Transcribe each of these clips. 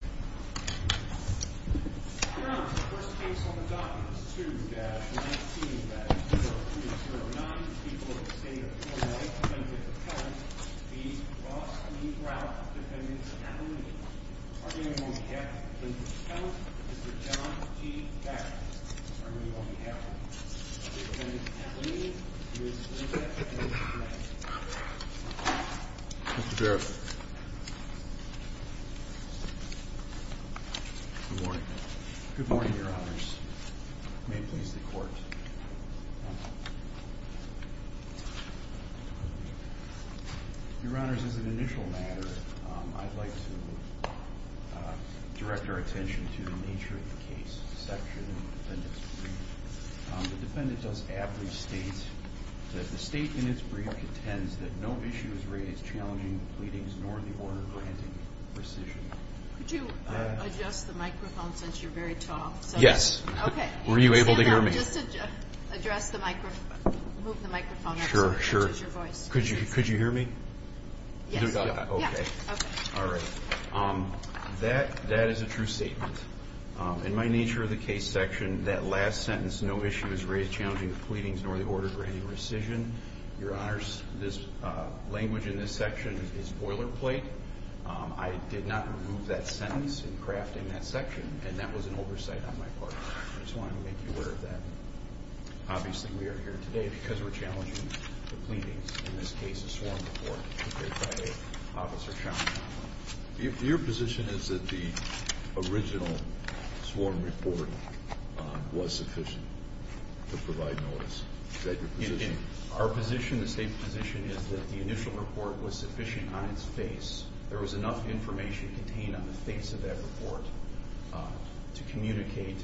Defendant at the meeting, Mr. John G. Backus, on behalf of the Defendant at the meeting, Mr. Barrett. Good morning. Good morning, Your Honors. May it please the Court. Your Honors, as an initial matter, I'd like to direct our attention to the nature of the case, the section in the Defendant's brief. The Defendant does ably state that the statement in its brief contends that no issue is raised challenging the pleadings nor the order granting rescission. Could you adjust the microphone since you're very tall? Yes. Okay. Were you able to hear me? Just to address the microphone, move the microphone up so it catches your voice. Could you hear me? Yes. Okay. All right. That is a true statement. In my nature of the case, the section, that last sentence, no issue is raised challenging the pleadings nor the order granting rescission. Your Honors, this language in this section is boilerplate. I did not remove that sentence in crafting that section, and that was an oversight on my part. I just wanted to make you aware of that. Obviously, we are here today because we're challenging the pleadings, in this case, a sworn report prepared by Officer Sean Conlon. Your position is that the original sworn report was sufficient to provide notice. Is that your position? Our position, the State's position, is that the initial report was sufficient on its face. There was enough information contained on the face of that report to communicate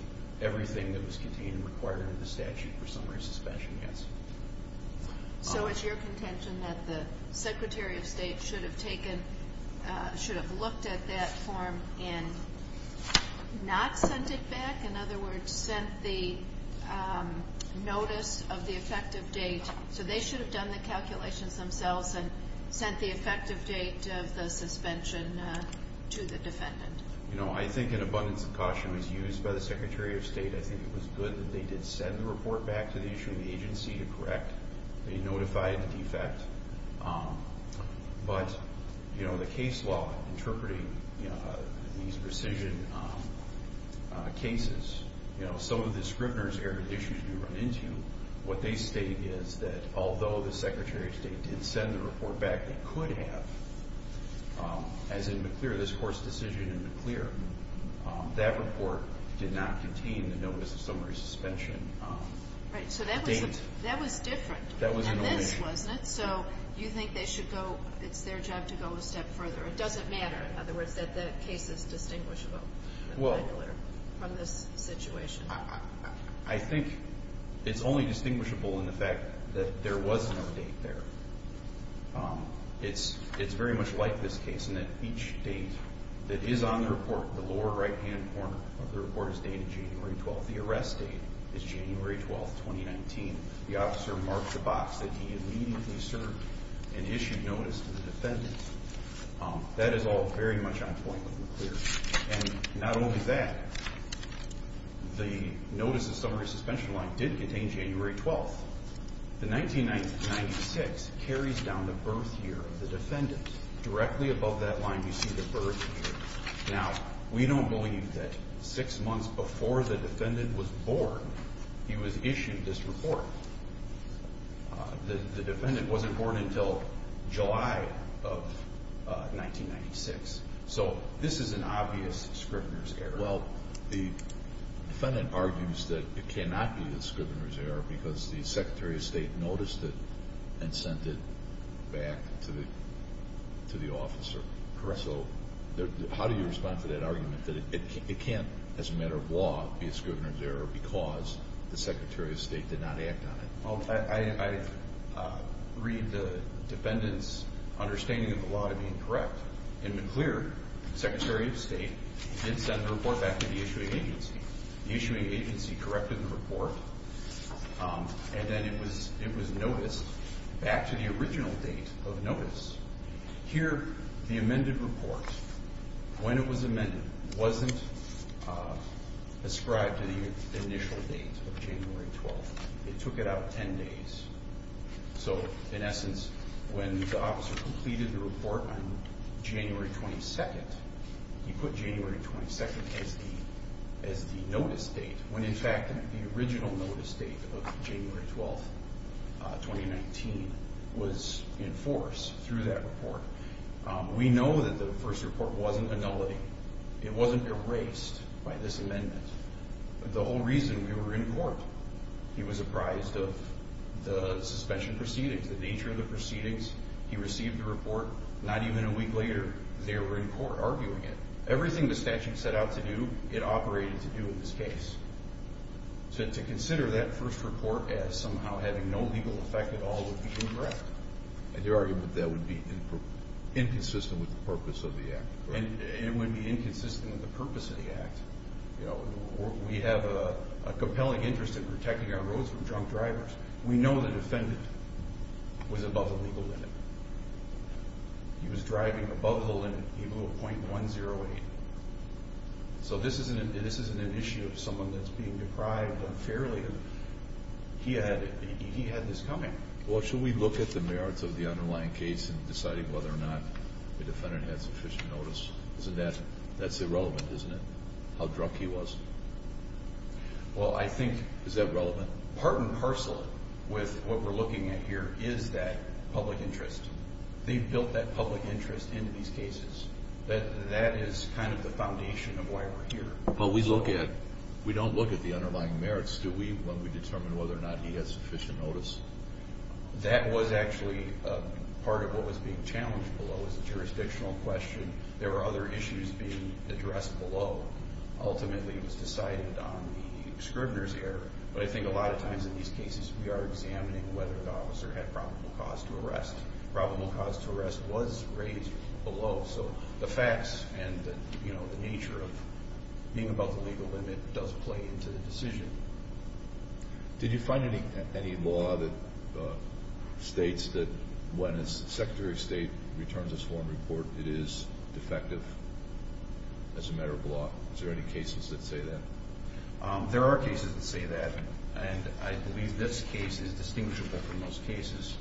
everything that was contained and required under the statute for summary suspension, yes. So it's your contention that the Secretary of State should have taken, should have looked at that form and not sent it back? In other words, sent the notice of the effective date, so they should have done the calculations themselves and sent the effective date of the suspension to the defendant? You know, I think an abundance of caution was used by the agency to correct the notified defect. But, you know, the case law interpreting these precision cases, you know, some of the Scrivner's-era issues we run into, what they state is that although the Secretary of State did send the report back, it could have, as in McClure, this court's decision in McClure, that report did not contain the notice of summary suspension date. Right, so that was different from this, wasn't it? So you think they should go, it's their job to go a step further. It doesn't matter, in other words, that the case is distinguishable from this situation. Well, I think it's only distinguishable in the fact that there was no date there. It's very much like this case in that each date that is on the report, the lower right-hand corner of the report is dated January 12th. The arrest date is January 12th, 2019. The officer marked the box that he immediately served and issued notice to the defendant. That is all very much on point with McClure. And not only that, the notice of summary suspension line did contain January 12th. The 1996 carries down the birth year of the defendant. Directly above that line you see the birth year. Now, we don't believe that six months before the defendant was born, he was issued this report. The defendant wasn't born until July of 1996. So this is an obvious Scrivener's error. Well, the defendant argues that it cannot be a Scrivener's error because the Secretary of State noticed it and sent it back to the officer. Correct. So how do you respond to that argument that it can't, as a matter of law, be a Scrivener's error because the Secretary of State did not act on it? Well, I read the defendant's understanding of the law to be incorrect. In McClure, the Secretary of State did send a report back to the issuing agency. The issuing agency corrected the report, and then it was noticed back to the original date of notice. Here, the amended report, when it was amended, wasn't ascribed to the initial date of January 12th. It took it out 10 days. So, in essence, when the officer completed the report on January 22nd, he put January 22nd as the notice date when, in fact, the original notice date of January 12th, 2019, was in force through that report. We know that the first report wasn't annulling. It wasn't erased by this amendment. The whole reason we were in court, he was apprised of the suspension proceedings, the nature of the proceedings, he received the report. Not even a week later, they were in court arguing it. Everything the statute set out to do, it operated to do in this case. So to consider that first report as somehow having no legal effect at all would be incorrect. And your argument that would be inconsistent with the purpose of the Act? It would be inconsistent with the purpose of the Act. We have a compelling interest in protecting our roads from drunk drivers. We know the defendant was above the legal limit. He was driving above the limit. He blew a .108. So this isn't an issue of someone that's being deprived unfairly. He had this coming. Well, should we look at the merits of the underlying case in deciding whether or not the defendant had sufficient notice? That's irrelevant, isn't it, how drunk he was? Well, I think... Is that relevant? Part and parcel with what we're looking at here is that public interest. They built that public interest into these cases. That is kind of the foundation of why we're here. But we look at... We don't look at the underlying merits, do we, when we determine whether or not he has sufficient notice? That was actually part of what was being challenged below. It was a jurisdictional question. There were other issues being addressed below. Ultimately, it was decided on the Scribner's error. But I think a lot of times in these cases, we are examining whether the officer had probable cause to arrest. Probable cause to arrest was raised below. So the facts and the nature of being above the legal limit does play into the decision. Did you find any law that states that when a Secretary of State returns a sworn report, it is defective as a matter of law? Is there any cases that say that? There are cases that say that. And I believe this case is distinguishable from most cases.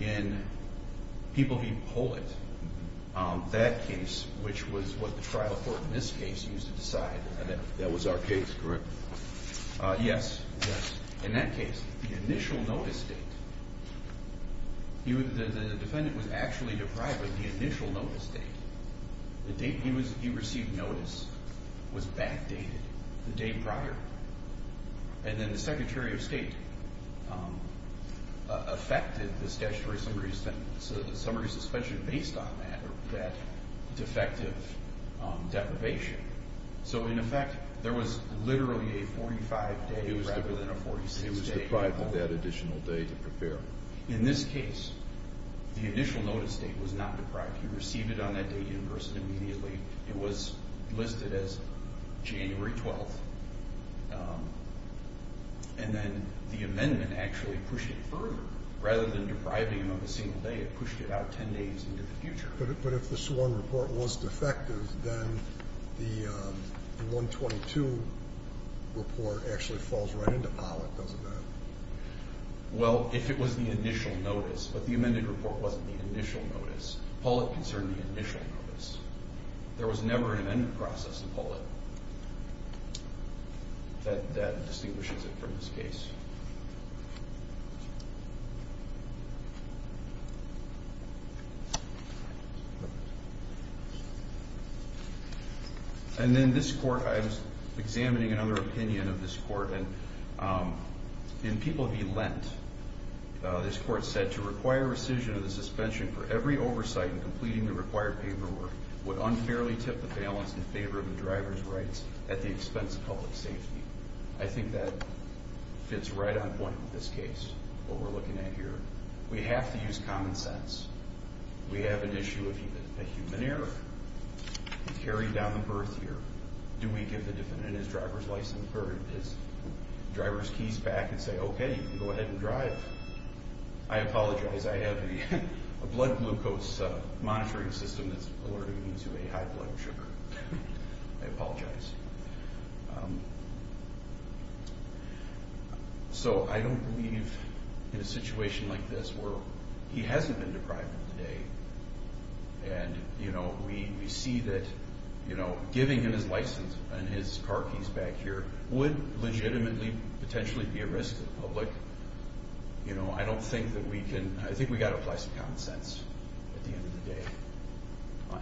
In People v. Pollitt, that case, which was what the trial court in this case used to decide... That was our case, correct? Yes, yes. In that case, the initial notice date, the defendant was actually deprived of the initial notice date. The date he received notice was backdated the day prior. And then the Secretary of State affected the statutory summary suspension based on that defective deprivation. So in effect, there was literally a 45-day rather than a 46-day. He was deprived of that additional day to prepare. In this case, the initial notice date was not deprived. He received it on that day in person immediately. It was listed as January 12th. And then the amendment actually pushed it further. Rather than depriving him of a single day, it pushed it out 10 days into the future. But if the sworn report was defective, then the 122 report actually falls right into Pollitt, doesn't it? Well, if it was the initial notice. But the amended report wasn't the initial notice. Pollitt concerned the initial notice. There was never an amendment process in Pollitt That distinguishes it from this case. And then this court, I was examining another opinion of this court. In People v. Lent, this court said, that to require rescission of the suspension for every oversight in completing the required paperwork would unfairly tip the balance in favor of the driver's rights at the expense of public safety. I think that fits right on point with this case, what we're looking at here. We have to use common sense. We have an issue of human error. We carry down the birth year. Do we give the defendant his driver's license or his driver's keys back and say, okay, you can go ahead and drive? I apologize, I have a blood glucose monitoring system that's alerting me to a high blood sugar. I apologize. So I don't believe in a situation like this where he hasn't been deprived of the day, and we see that giving him his license and his car keys back here would legitimately potentially be a risk to the public. I don't think that we can, I think we've got to apply some common sense at the end of the day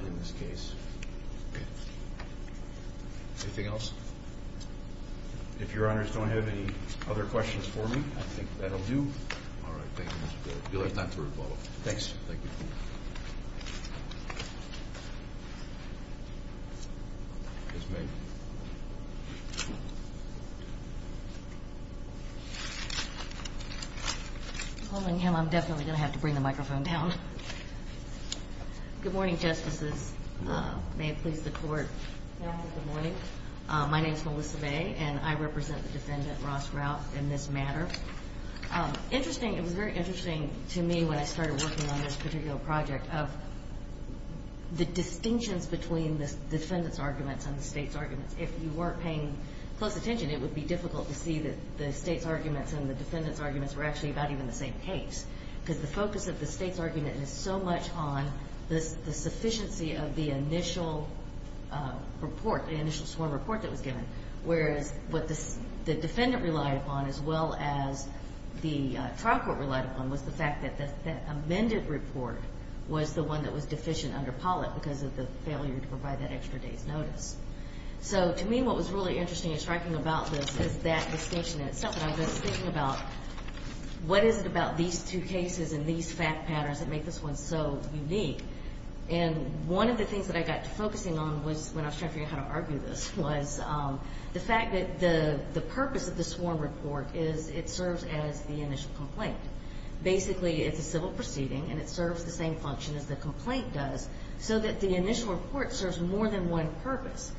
in this case. Anything else? If your honors don't have any other questions for me, I think that'll do. All right, thank you, Mr. Baird. You'll have time for a follow-up. Thanks. Thank you. Yes, ma'am. Well, I'm definitely going to have to bring the microphone down. Good morning, Justices. May it please the Court. Good morning. My name is Melissa May, and I represent the defendant, Ross Routh, in this matter. Interesting, it was very interesting to me when I started working on this particular project of the distinctions between the defendant's arguments and the state's arguments. If you weren't paying close attention, it would be difficult to see that the state's arguments and the defendant's arguments were actually about even the same case, because the focus of the state's argument is so much on the sufficiency of the initial report, the initial sworn report that was given, whereas what the defendant relied upon as well as the trial court relied upon was the fact that the amended report was the one that was deficient under Pollitt So to me, what was really interesting and striking about this is that distinction in itself, and I was thinking about what is it about these two cases and these fact patterns that make this one so unique. And one of the things that I got to focusing on was, when I was trying to figure out how to argue this, was the fact that the purpose of the sworn report is it serves as the initial complaint. Basically, it's a civil proceeding, and it serves the same function as the complaint does, so that the initial report serves more than one purpose.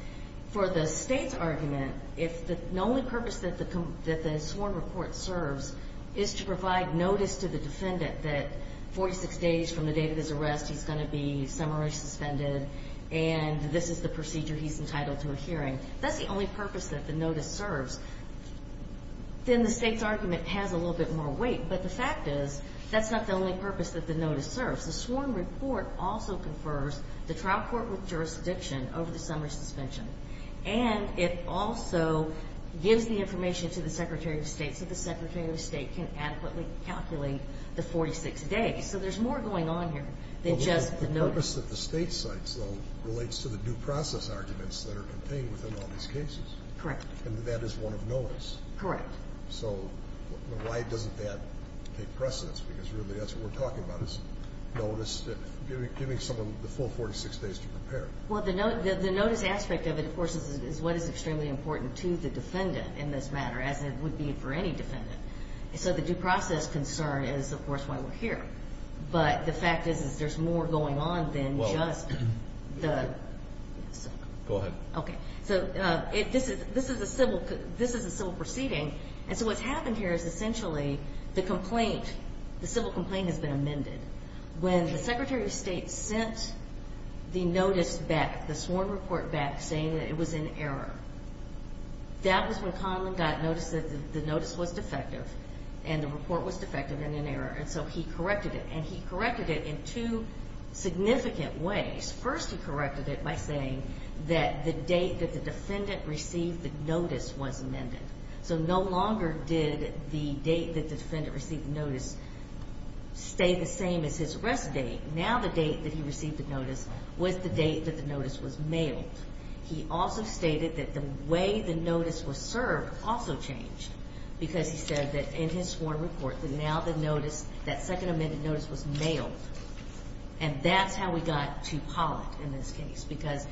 For the state's argument, the only purpose that the sworn report serves is to provide notice to the defendant that 46 days from the date of his arrest, he's going to be summarily suspended, and this is the procedure he's entitled to adhering. That's the only purpose that the notice serves. Then the state's argument has a little bit more weight, but the fact is that's not the only purpose that the notice serves. The sworn report also confers the trial court with jurisdiction over the summary suspension, and it also gives the information to the Secretary of State so the Secretary of State can adequately calculate the 46 days. So there's more going on here than just the notice. The purpose that the state cites, though, relates to the due process arguments that are contained within all these cases. Correct. And that is one of notice. Correct. So why doesn't that take precedence? Because really that's what we're talking about is notice, giving someone the full 46 days to prepare. Well, the notice aspect of it, of course, is what is extremely important to the defendant in this matter, as it would be for any defendant. So the due process concern is, of course, why we're here. But the fact is there's more going on than just the ‑‑ Go ahead. Okay. So this is a civil proceeding, and so what's happened here is essentially the complaint, the civil complaint has been amended. When the Secretary of State sent the notice back, the sworn report back, saying that it was in error, that was when Conlon got notice that the notice was defective and the report was defective and in error, and so he corrected it, and he corrected it in two significant ways. First, he corrected it by saying that the date that the defendant received the notice was amended. So no longer did the date that the defendant received the notice stay the same as his arrest date. Now the date that he received the notice was the date that the notice was mailed. He also stated that the way the notice was served also changed, because he said that in his sworn report that now the notice, that second amended notice, was mailed. And that's how we got to Pollack in this case, because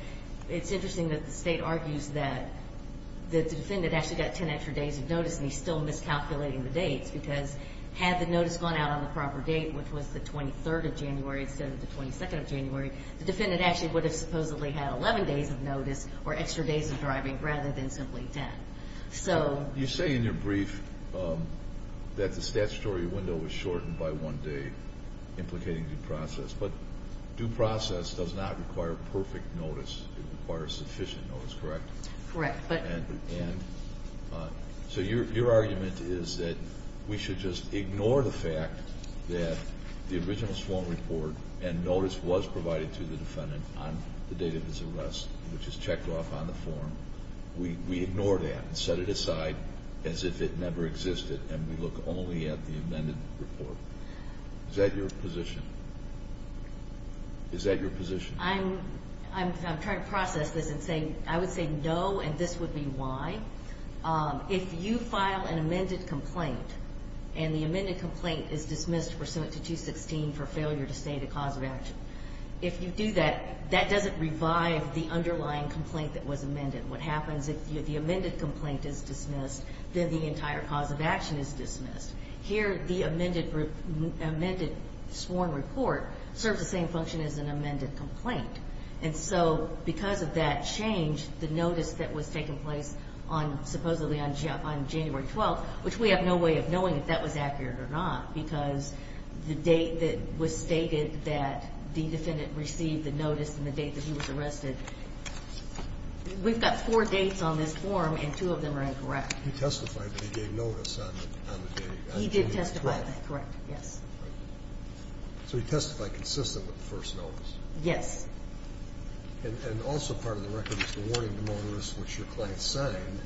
it's interesting that the State argues that the defendant actually got 10 extra days of notice, and he's still miscalculating the dates, because had the notice gone out on the proper date, which was the 23rd of January instead of the 22nd of January, the defendant actually would have supposedly had 11 days of notice or extra days of driving rather than simply 10. You say in your brief that the statutory window was shortened by one day, implicating due process, but due process does not require perfect notice. It requires sufficient notice, correct? Correct. And so your argument is that we should just ignore the fact that the original sworn report and notice was provided to the defendant on the date of his arrest, which is checked off on the form. We ignore that and set it aside as if it never existed, and we look only at the amended report. Is that your position? Is that your position? I'm trying to process this and say I would say no, and this would be why. If you file an amended complaint, and the amended complaint is dismissed pursuant to 216 for failure to state a cause of action, if you do that, that doesn't revive the underlying complaint that was amended. What happens if the amended complaint is dismissed, then the entire cause of action is dismissed. Here the amended sworn report serves the same function as an amended complaint. And so because of that change, the notice that was taking place on supposedly on January 12th, which we have no way of knowing if that was accurate or not, because the date that was stated that the defendant received the notice and the date that he was arrested, we've got four dates on this form, and two of them are incorrect. He testified that he gave notice on the date, on January 12th. He did testify, correct, yes. So he testified consistent with the first notice. Yes. And also part of the record is the warning to motorists, which your client signed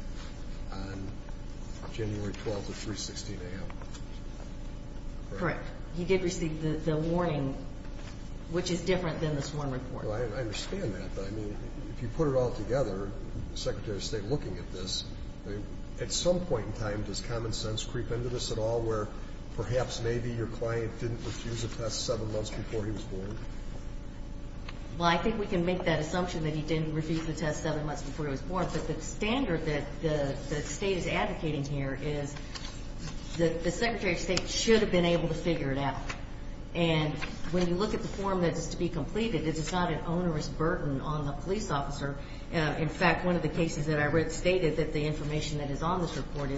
on January 12th at 316 a.m. Correct. He did receive the warning, which is different than this one report. I understand that. But, I mean, if you put it all together, the Secretary of State looking at this, at some point in time does common sense creep into this at all, where perhaps maybe your client didn't refuse a test seven months before he was born? Well, I think we can make that assumption that he didn't refuse the test seven months before he was born. But the standard that the State is advocating here is that the Secretary of State should have been able to figure it out. And when you look at the form that is to be completed, it's not an onerous burden on the police officer. In fact, one of the cases that I read stated that the information that is on this report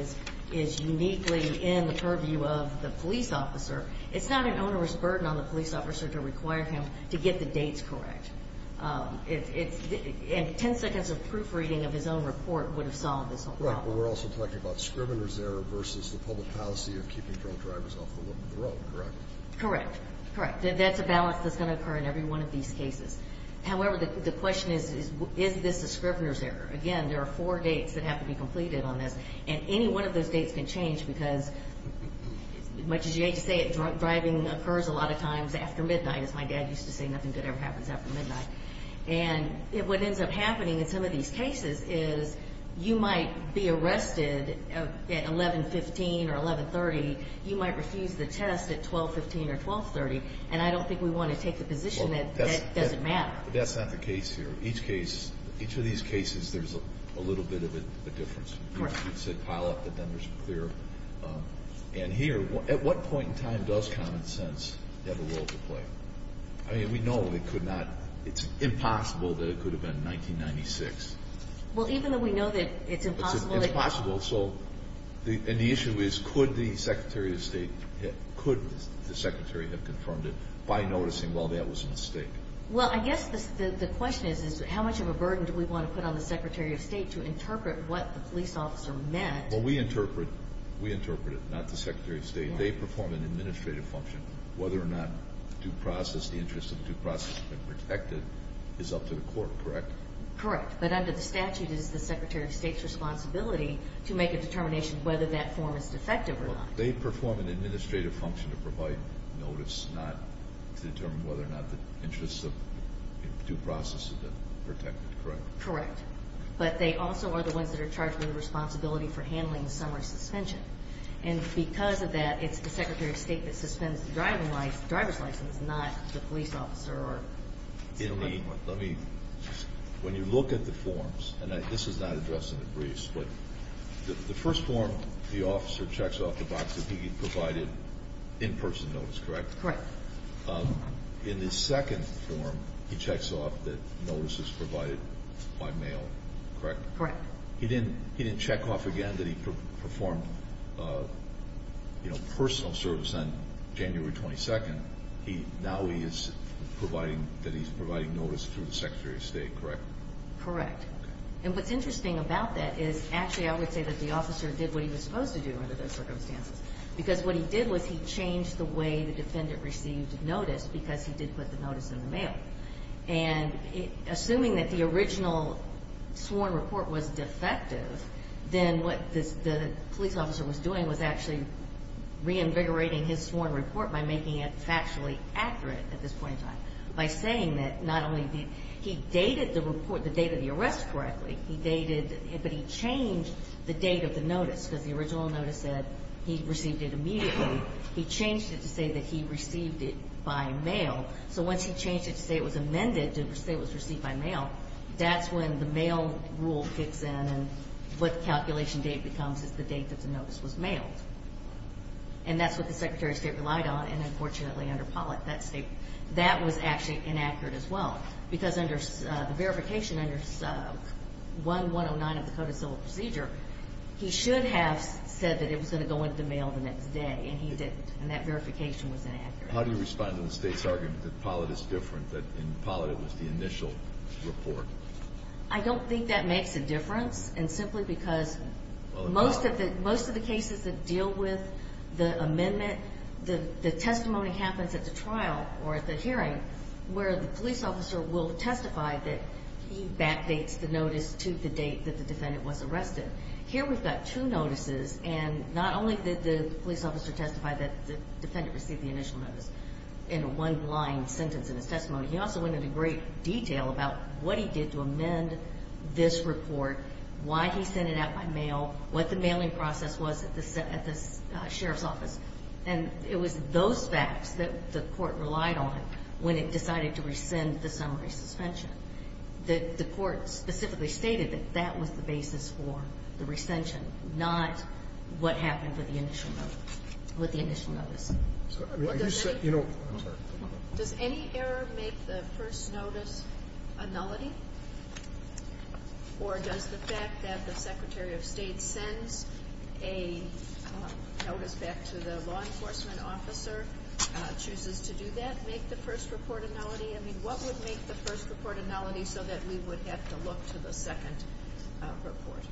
is uniquely in the purview of the police officer. It's not an onerous burden on the police officer to require him to get the dates correct. And ten seconds of proofreading of his own report would have solved this whole problem. Right. But we're also talking about scriminger's error versus the public policy of keeping drunk drivers off the road, correct? Correct. Correct. That's a balance that's going to occur in every one of these cases. However, the question is, is this a scrivener's error? Again, there are four dates that have to be completed on this. And any one of those dates can change because, as much as you hate to say it, drunk driving occurs a lot of times after midnight. As my dad used to say, nothing good ever happens after midnight. And what ends up happening in some of these cases is you might be arrested at 11.15 or 11.30. You might refuse the test at 12.15 or 12.30. And I don't think we want to take the position that that doesn't matter. But that's not the case here. Each case, each of these cases, there's a little bit of a difference. Correct. It's a pileup, but then there's a clear end here. At what point in time does common sense have a role to play? I mean, we know it could not. It's impossible that it could have been 1996. Well, even though we know that it's impossible. It's impossible. And the issue is could the Secretary of State have confirmed it by noticing, well, that was a mistake? Well, I guess the question is how much of a burden do we want to put on the Secretary of State to interpret what the police officer meant? Well, we interpret it, not the Secretary of State. They perform an administrative function. Whether or not the due process, the interest of the due process, has been protected is up to the court, correct? Correct. But under the statute, it is the Secretary of State's responsibility to make a determination whether that form is defective or not. Well, they perform an administrative function to provide notice, not to determine whether or not the interest of due process has been protected, correct? Correct. But they also are the ones that are charged with the responsibility for handling the summary suspension. And because of that, it's the Secretary of State that suspends the driver's license, not the police officer. When you look at the forms, and this is not addressed in the briefs, but the first form, the officer checks off the box that he provided in-person notice, correct? Correct. In the second form, he checks off that notice is provided by mail, correct? Correct. He didn't check off again that he performed personal service on January 22nd. Now he is providing notice through the Secretary of State, correct? Correct. And what's interesting about that is actually I would say that the officer did what he was supposed to do under those circumstances. Because what he did was he changed the way the defendant received notice because he did put the notice in the mail. And assuming that the original sworn report was defective, then what the police officer was doing was actually reinvigorating his sworn report by making it factually accurate at this point in time. By saying that not only did he date the report, the date of the arrest correctly, he dated, but he changed the date of the notice because the original notice said he received it immediately. He changed it to say that he received it by mail. So once he changed it to say it was amended to say it was received by mail, that's when the mail rule kicks in and what the calculation date becomes is the date that the notice was mailed. And that's what the Secretary of State relied on. And, unfortunately, under Pollitt, that was actually inaccurate as well. Because under the verification under 1109 of the Code of Civil Procedure, he should have said that it was going to go into the mail the next day, and he didn't. And that verification was inaccurate. How do you respond to the State's argument that Pollitt is different, that in Pollitt it was the initial report? I don't think that makes a difference. And simply because most of the cases that deal with the amendment, the testimony happens at the trial or at the hearing where the police officer will testify that he backdates the notice to the date that the defendant was arrested. Here we've got two notices, and not only did the police officer testify that the defendant received the initial notice in a one-line sentence in his testimony, he also went into great detail about what he did to amend this report, why he sent it out by mail, what the mailing process was at the sheriff's office. And it was those facts that the court relied on when it decided to rescind the summary suspension. The court specifically stated that that was the basis for the rescension, not what happened with the initial notice. Does any error make the first notice a nullity? Or does the fact that the Secretary of State sends a notice back to the law enforcement officer, chooses to do that, make the first report a nullity? I mean, what would make the first report a nullity so that we would have to look to the second report?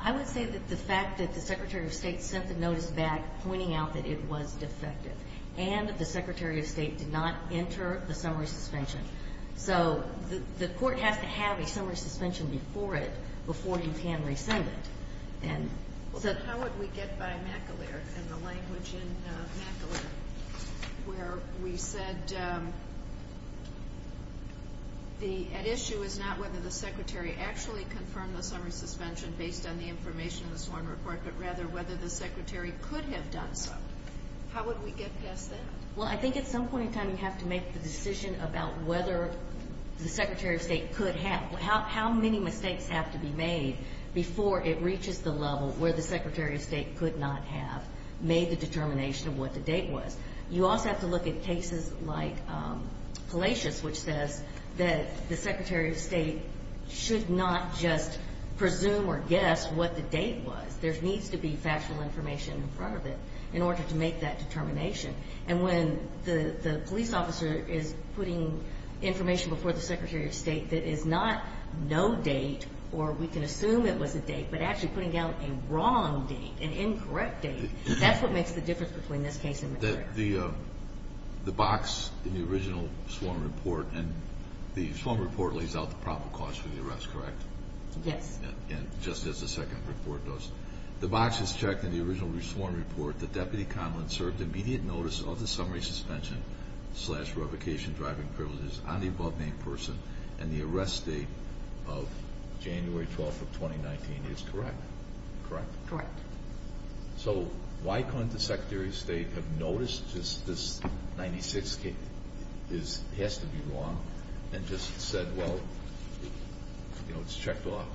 I would say that the fact that the Secretary of State sent the notice back pointing out that it was defective and that the Secretary of State did not enter the summary suspension. So the court has to have a summary suspension before it, before you can rescind it. How would we get by McAleer and the language in McAleer where we said, the issue is not whether the Secretary actually confirmed the summary suspension based on the information in the sworn report, but rather whether the Secretary could have done so. How would we get past that? Well, I think at some point in time you have to make the decision about whether the Secretary of State could have, how many mistakes have to be made before it reaches the level where the Secretary of State could not have made the determination of what the date was. You also have to look at cases like Palacios, which says that the Secretary of State should not just presume or guess what the date was. There needs to be factual information in front of it in order to make that determination. And when the police officer is putting information before the Secretary of State that is not no date, or we can assume it was a date, but actually putting out a wrong date, an incorrect date, that's what makes the difference between this case and McAleer. The box in the original sworn report, and the sworn report lays out the probable cause for the arrest, correct? Yes. And just as the second report does. The box is checked in the original sworn report that Deputy Conlin served immediate notice of the summary suspension slash revocation driving privileges on the above named person and the arrest date of January 12th of 2019 is correct, correct? Correct. So why couldn't the Secretary of State have noticed this 96 has to be wrong and just said, well, you know, it's checked off?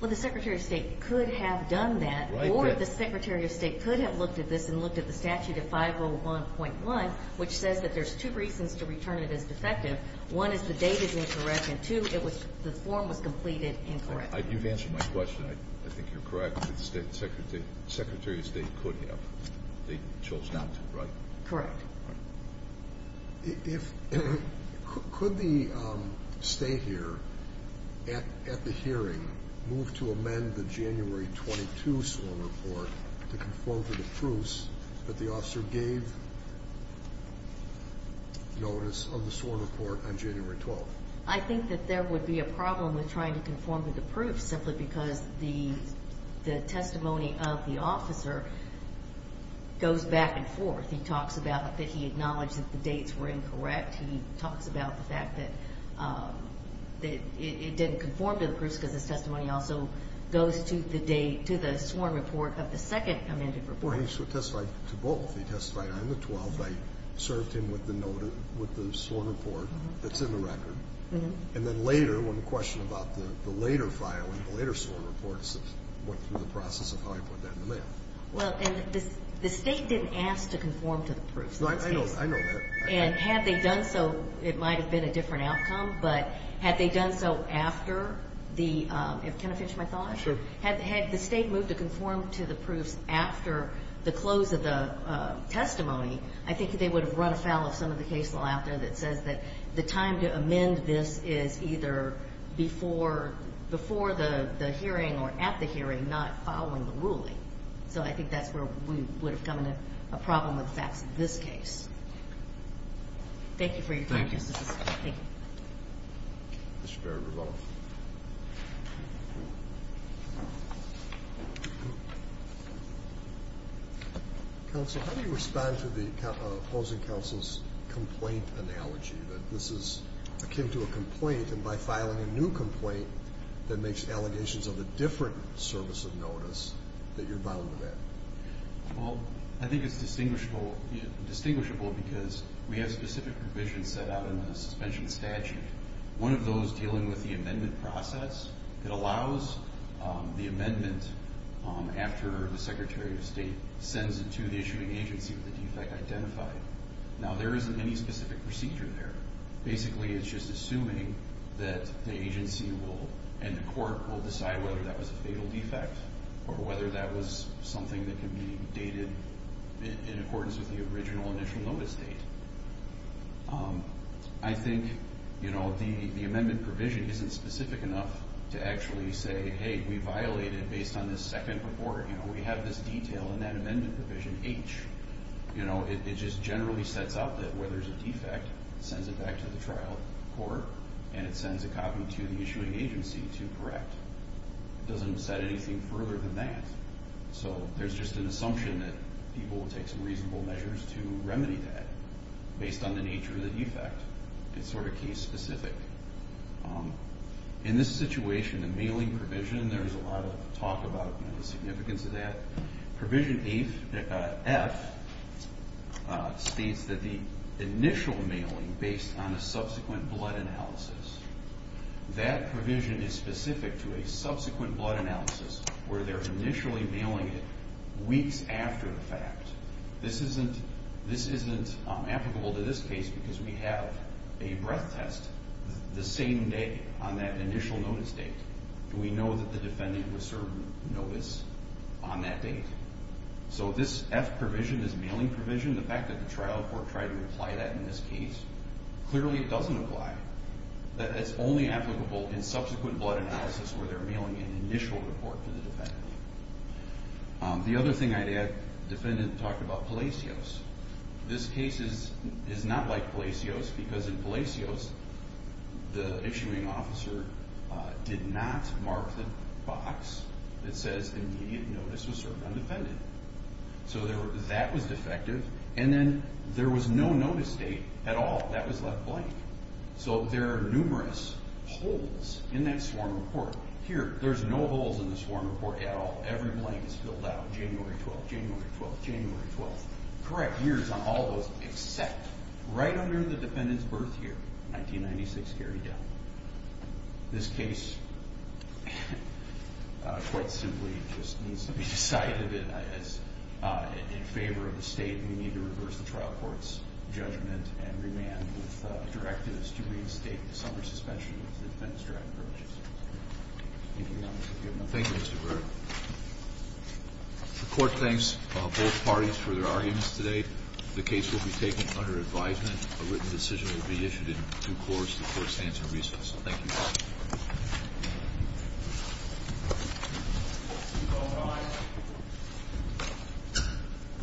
Well, the Secretary of State could have done that, or the Secretary of State could have looked at this and looked at the statute of 501.1, which says that there's two reasons to return it as defective. One is the date is incorrect, and two, it was the form was completed incorrectly. You've answered my question. I think you're correct that the Secretary of State could have. They chose not to, right? Correct. Could the State here at the hearing move to amend the January 22 sworn report to conform to the proofs that the officer gave notice of the sworn report on January 12th? I think that there would be a problem with trying to conform to the proofs simply because the testimony of the officer goes back and forth. He talks about that he acknowledged that the dates were incorrect. He talks about the fact that it didn't conform to the proofs because his testimony also goes to the sworn report of the second amended report. Well, he testified to both. He testified on the 12th. I served him with the sworn report that's in the record. And then later, when the question about the later filing, the later sworn reports went through the process of how I put that in the mail. Well, and the State didn't ask to conform to the proofs in this case. No, I know. I know. And had they done so, it might have been a different outcome, but had they done so after the – can I finish my thought? Sure. Had the State moved to conform to the proofs after the close of the testimony, I think they would have run afoul of some of the case law out there that says that the time to amend this is either before the hearing or at the hearing, not following the ruling. So I think that's where we would have come to a problem with the facts of this case. Thank you for your time, Justice Ginsburg. Thank you. Thank you. Mr. Berger, you're welcome. Counsel, how do you respond to the opposing counsel's complaint analogy that this is akin to a complaint, and by filing a new complaint that makes allegations of a different service of notice, that you're bound to that? Well, I think it's distinguishable because we have specific provisions set out in the suspension statute, one of those dealing with the amendment process. It allows the amendment after the Secretary of State sends it to the issuing agency with the defect identified. Now, there isn't any specific procedure there. Basically, it's just assuming that the agency and the court will decide whether that was a fatal defect or whether that was something that could be dated in accordance with the original initial notice date. I think the amendment provision isn't specific enough to actually say, hey, we violate it based on this second report. We have this detail in that amendment provision, H. It just generally sets out that where there's a defect, it sends it back to the trial court, and it sends a copy to the issuing agency to correct. It doesn't set anything further than that. So there's just an assumption that people will take some reasonable measures to remedy that based on the nature of the defect. It's sort of case specific. In this situation, the mailing provision, there's a lot of talk about the significance of that. Provision F states that the initial mailing based on a subsequent blood analysis, that provision is specific to a subsequent blood analysis where they're initially mailing it weeks after the fact. This isn't applicable to this case because we have a breath test the same day on that initial notice date. We know that the defendant was served notice on that date. So this F provision is mailing provision. The fact that the trial court tried to apply that in this case, clearly it doesn't apply. It's only applicable in subsequent blood analysis where they're mailing an initial report to the defendant. The other thing I'd add, the defendant talked about Palacios. This case is not like Palacios because in Palacios, the issuing officer did not mark the box that says immediate notice was served on the defendant. So that was defective. And then there was no notice date at all. That was left blank. So there are numerous holes in that sworn report. Here, there's no holes in the sworn report at all. Every blank is filled out January 12th, January 12th, January 12th. Correct years on all those except right under the defendant's birth year, 1996, carried down. This case quite simply just needs to be decided in favor of the state. We need to reverse the trial court's judgment and remand with directives to reinstate the summer suspension of the defendant's driving privileges. Thank you, Mr. Burr. The court thanks both parties for their arguments today. The case will be taken under advisement. A written decision will be issued in due course to the court's stance and reasons. Thank you.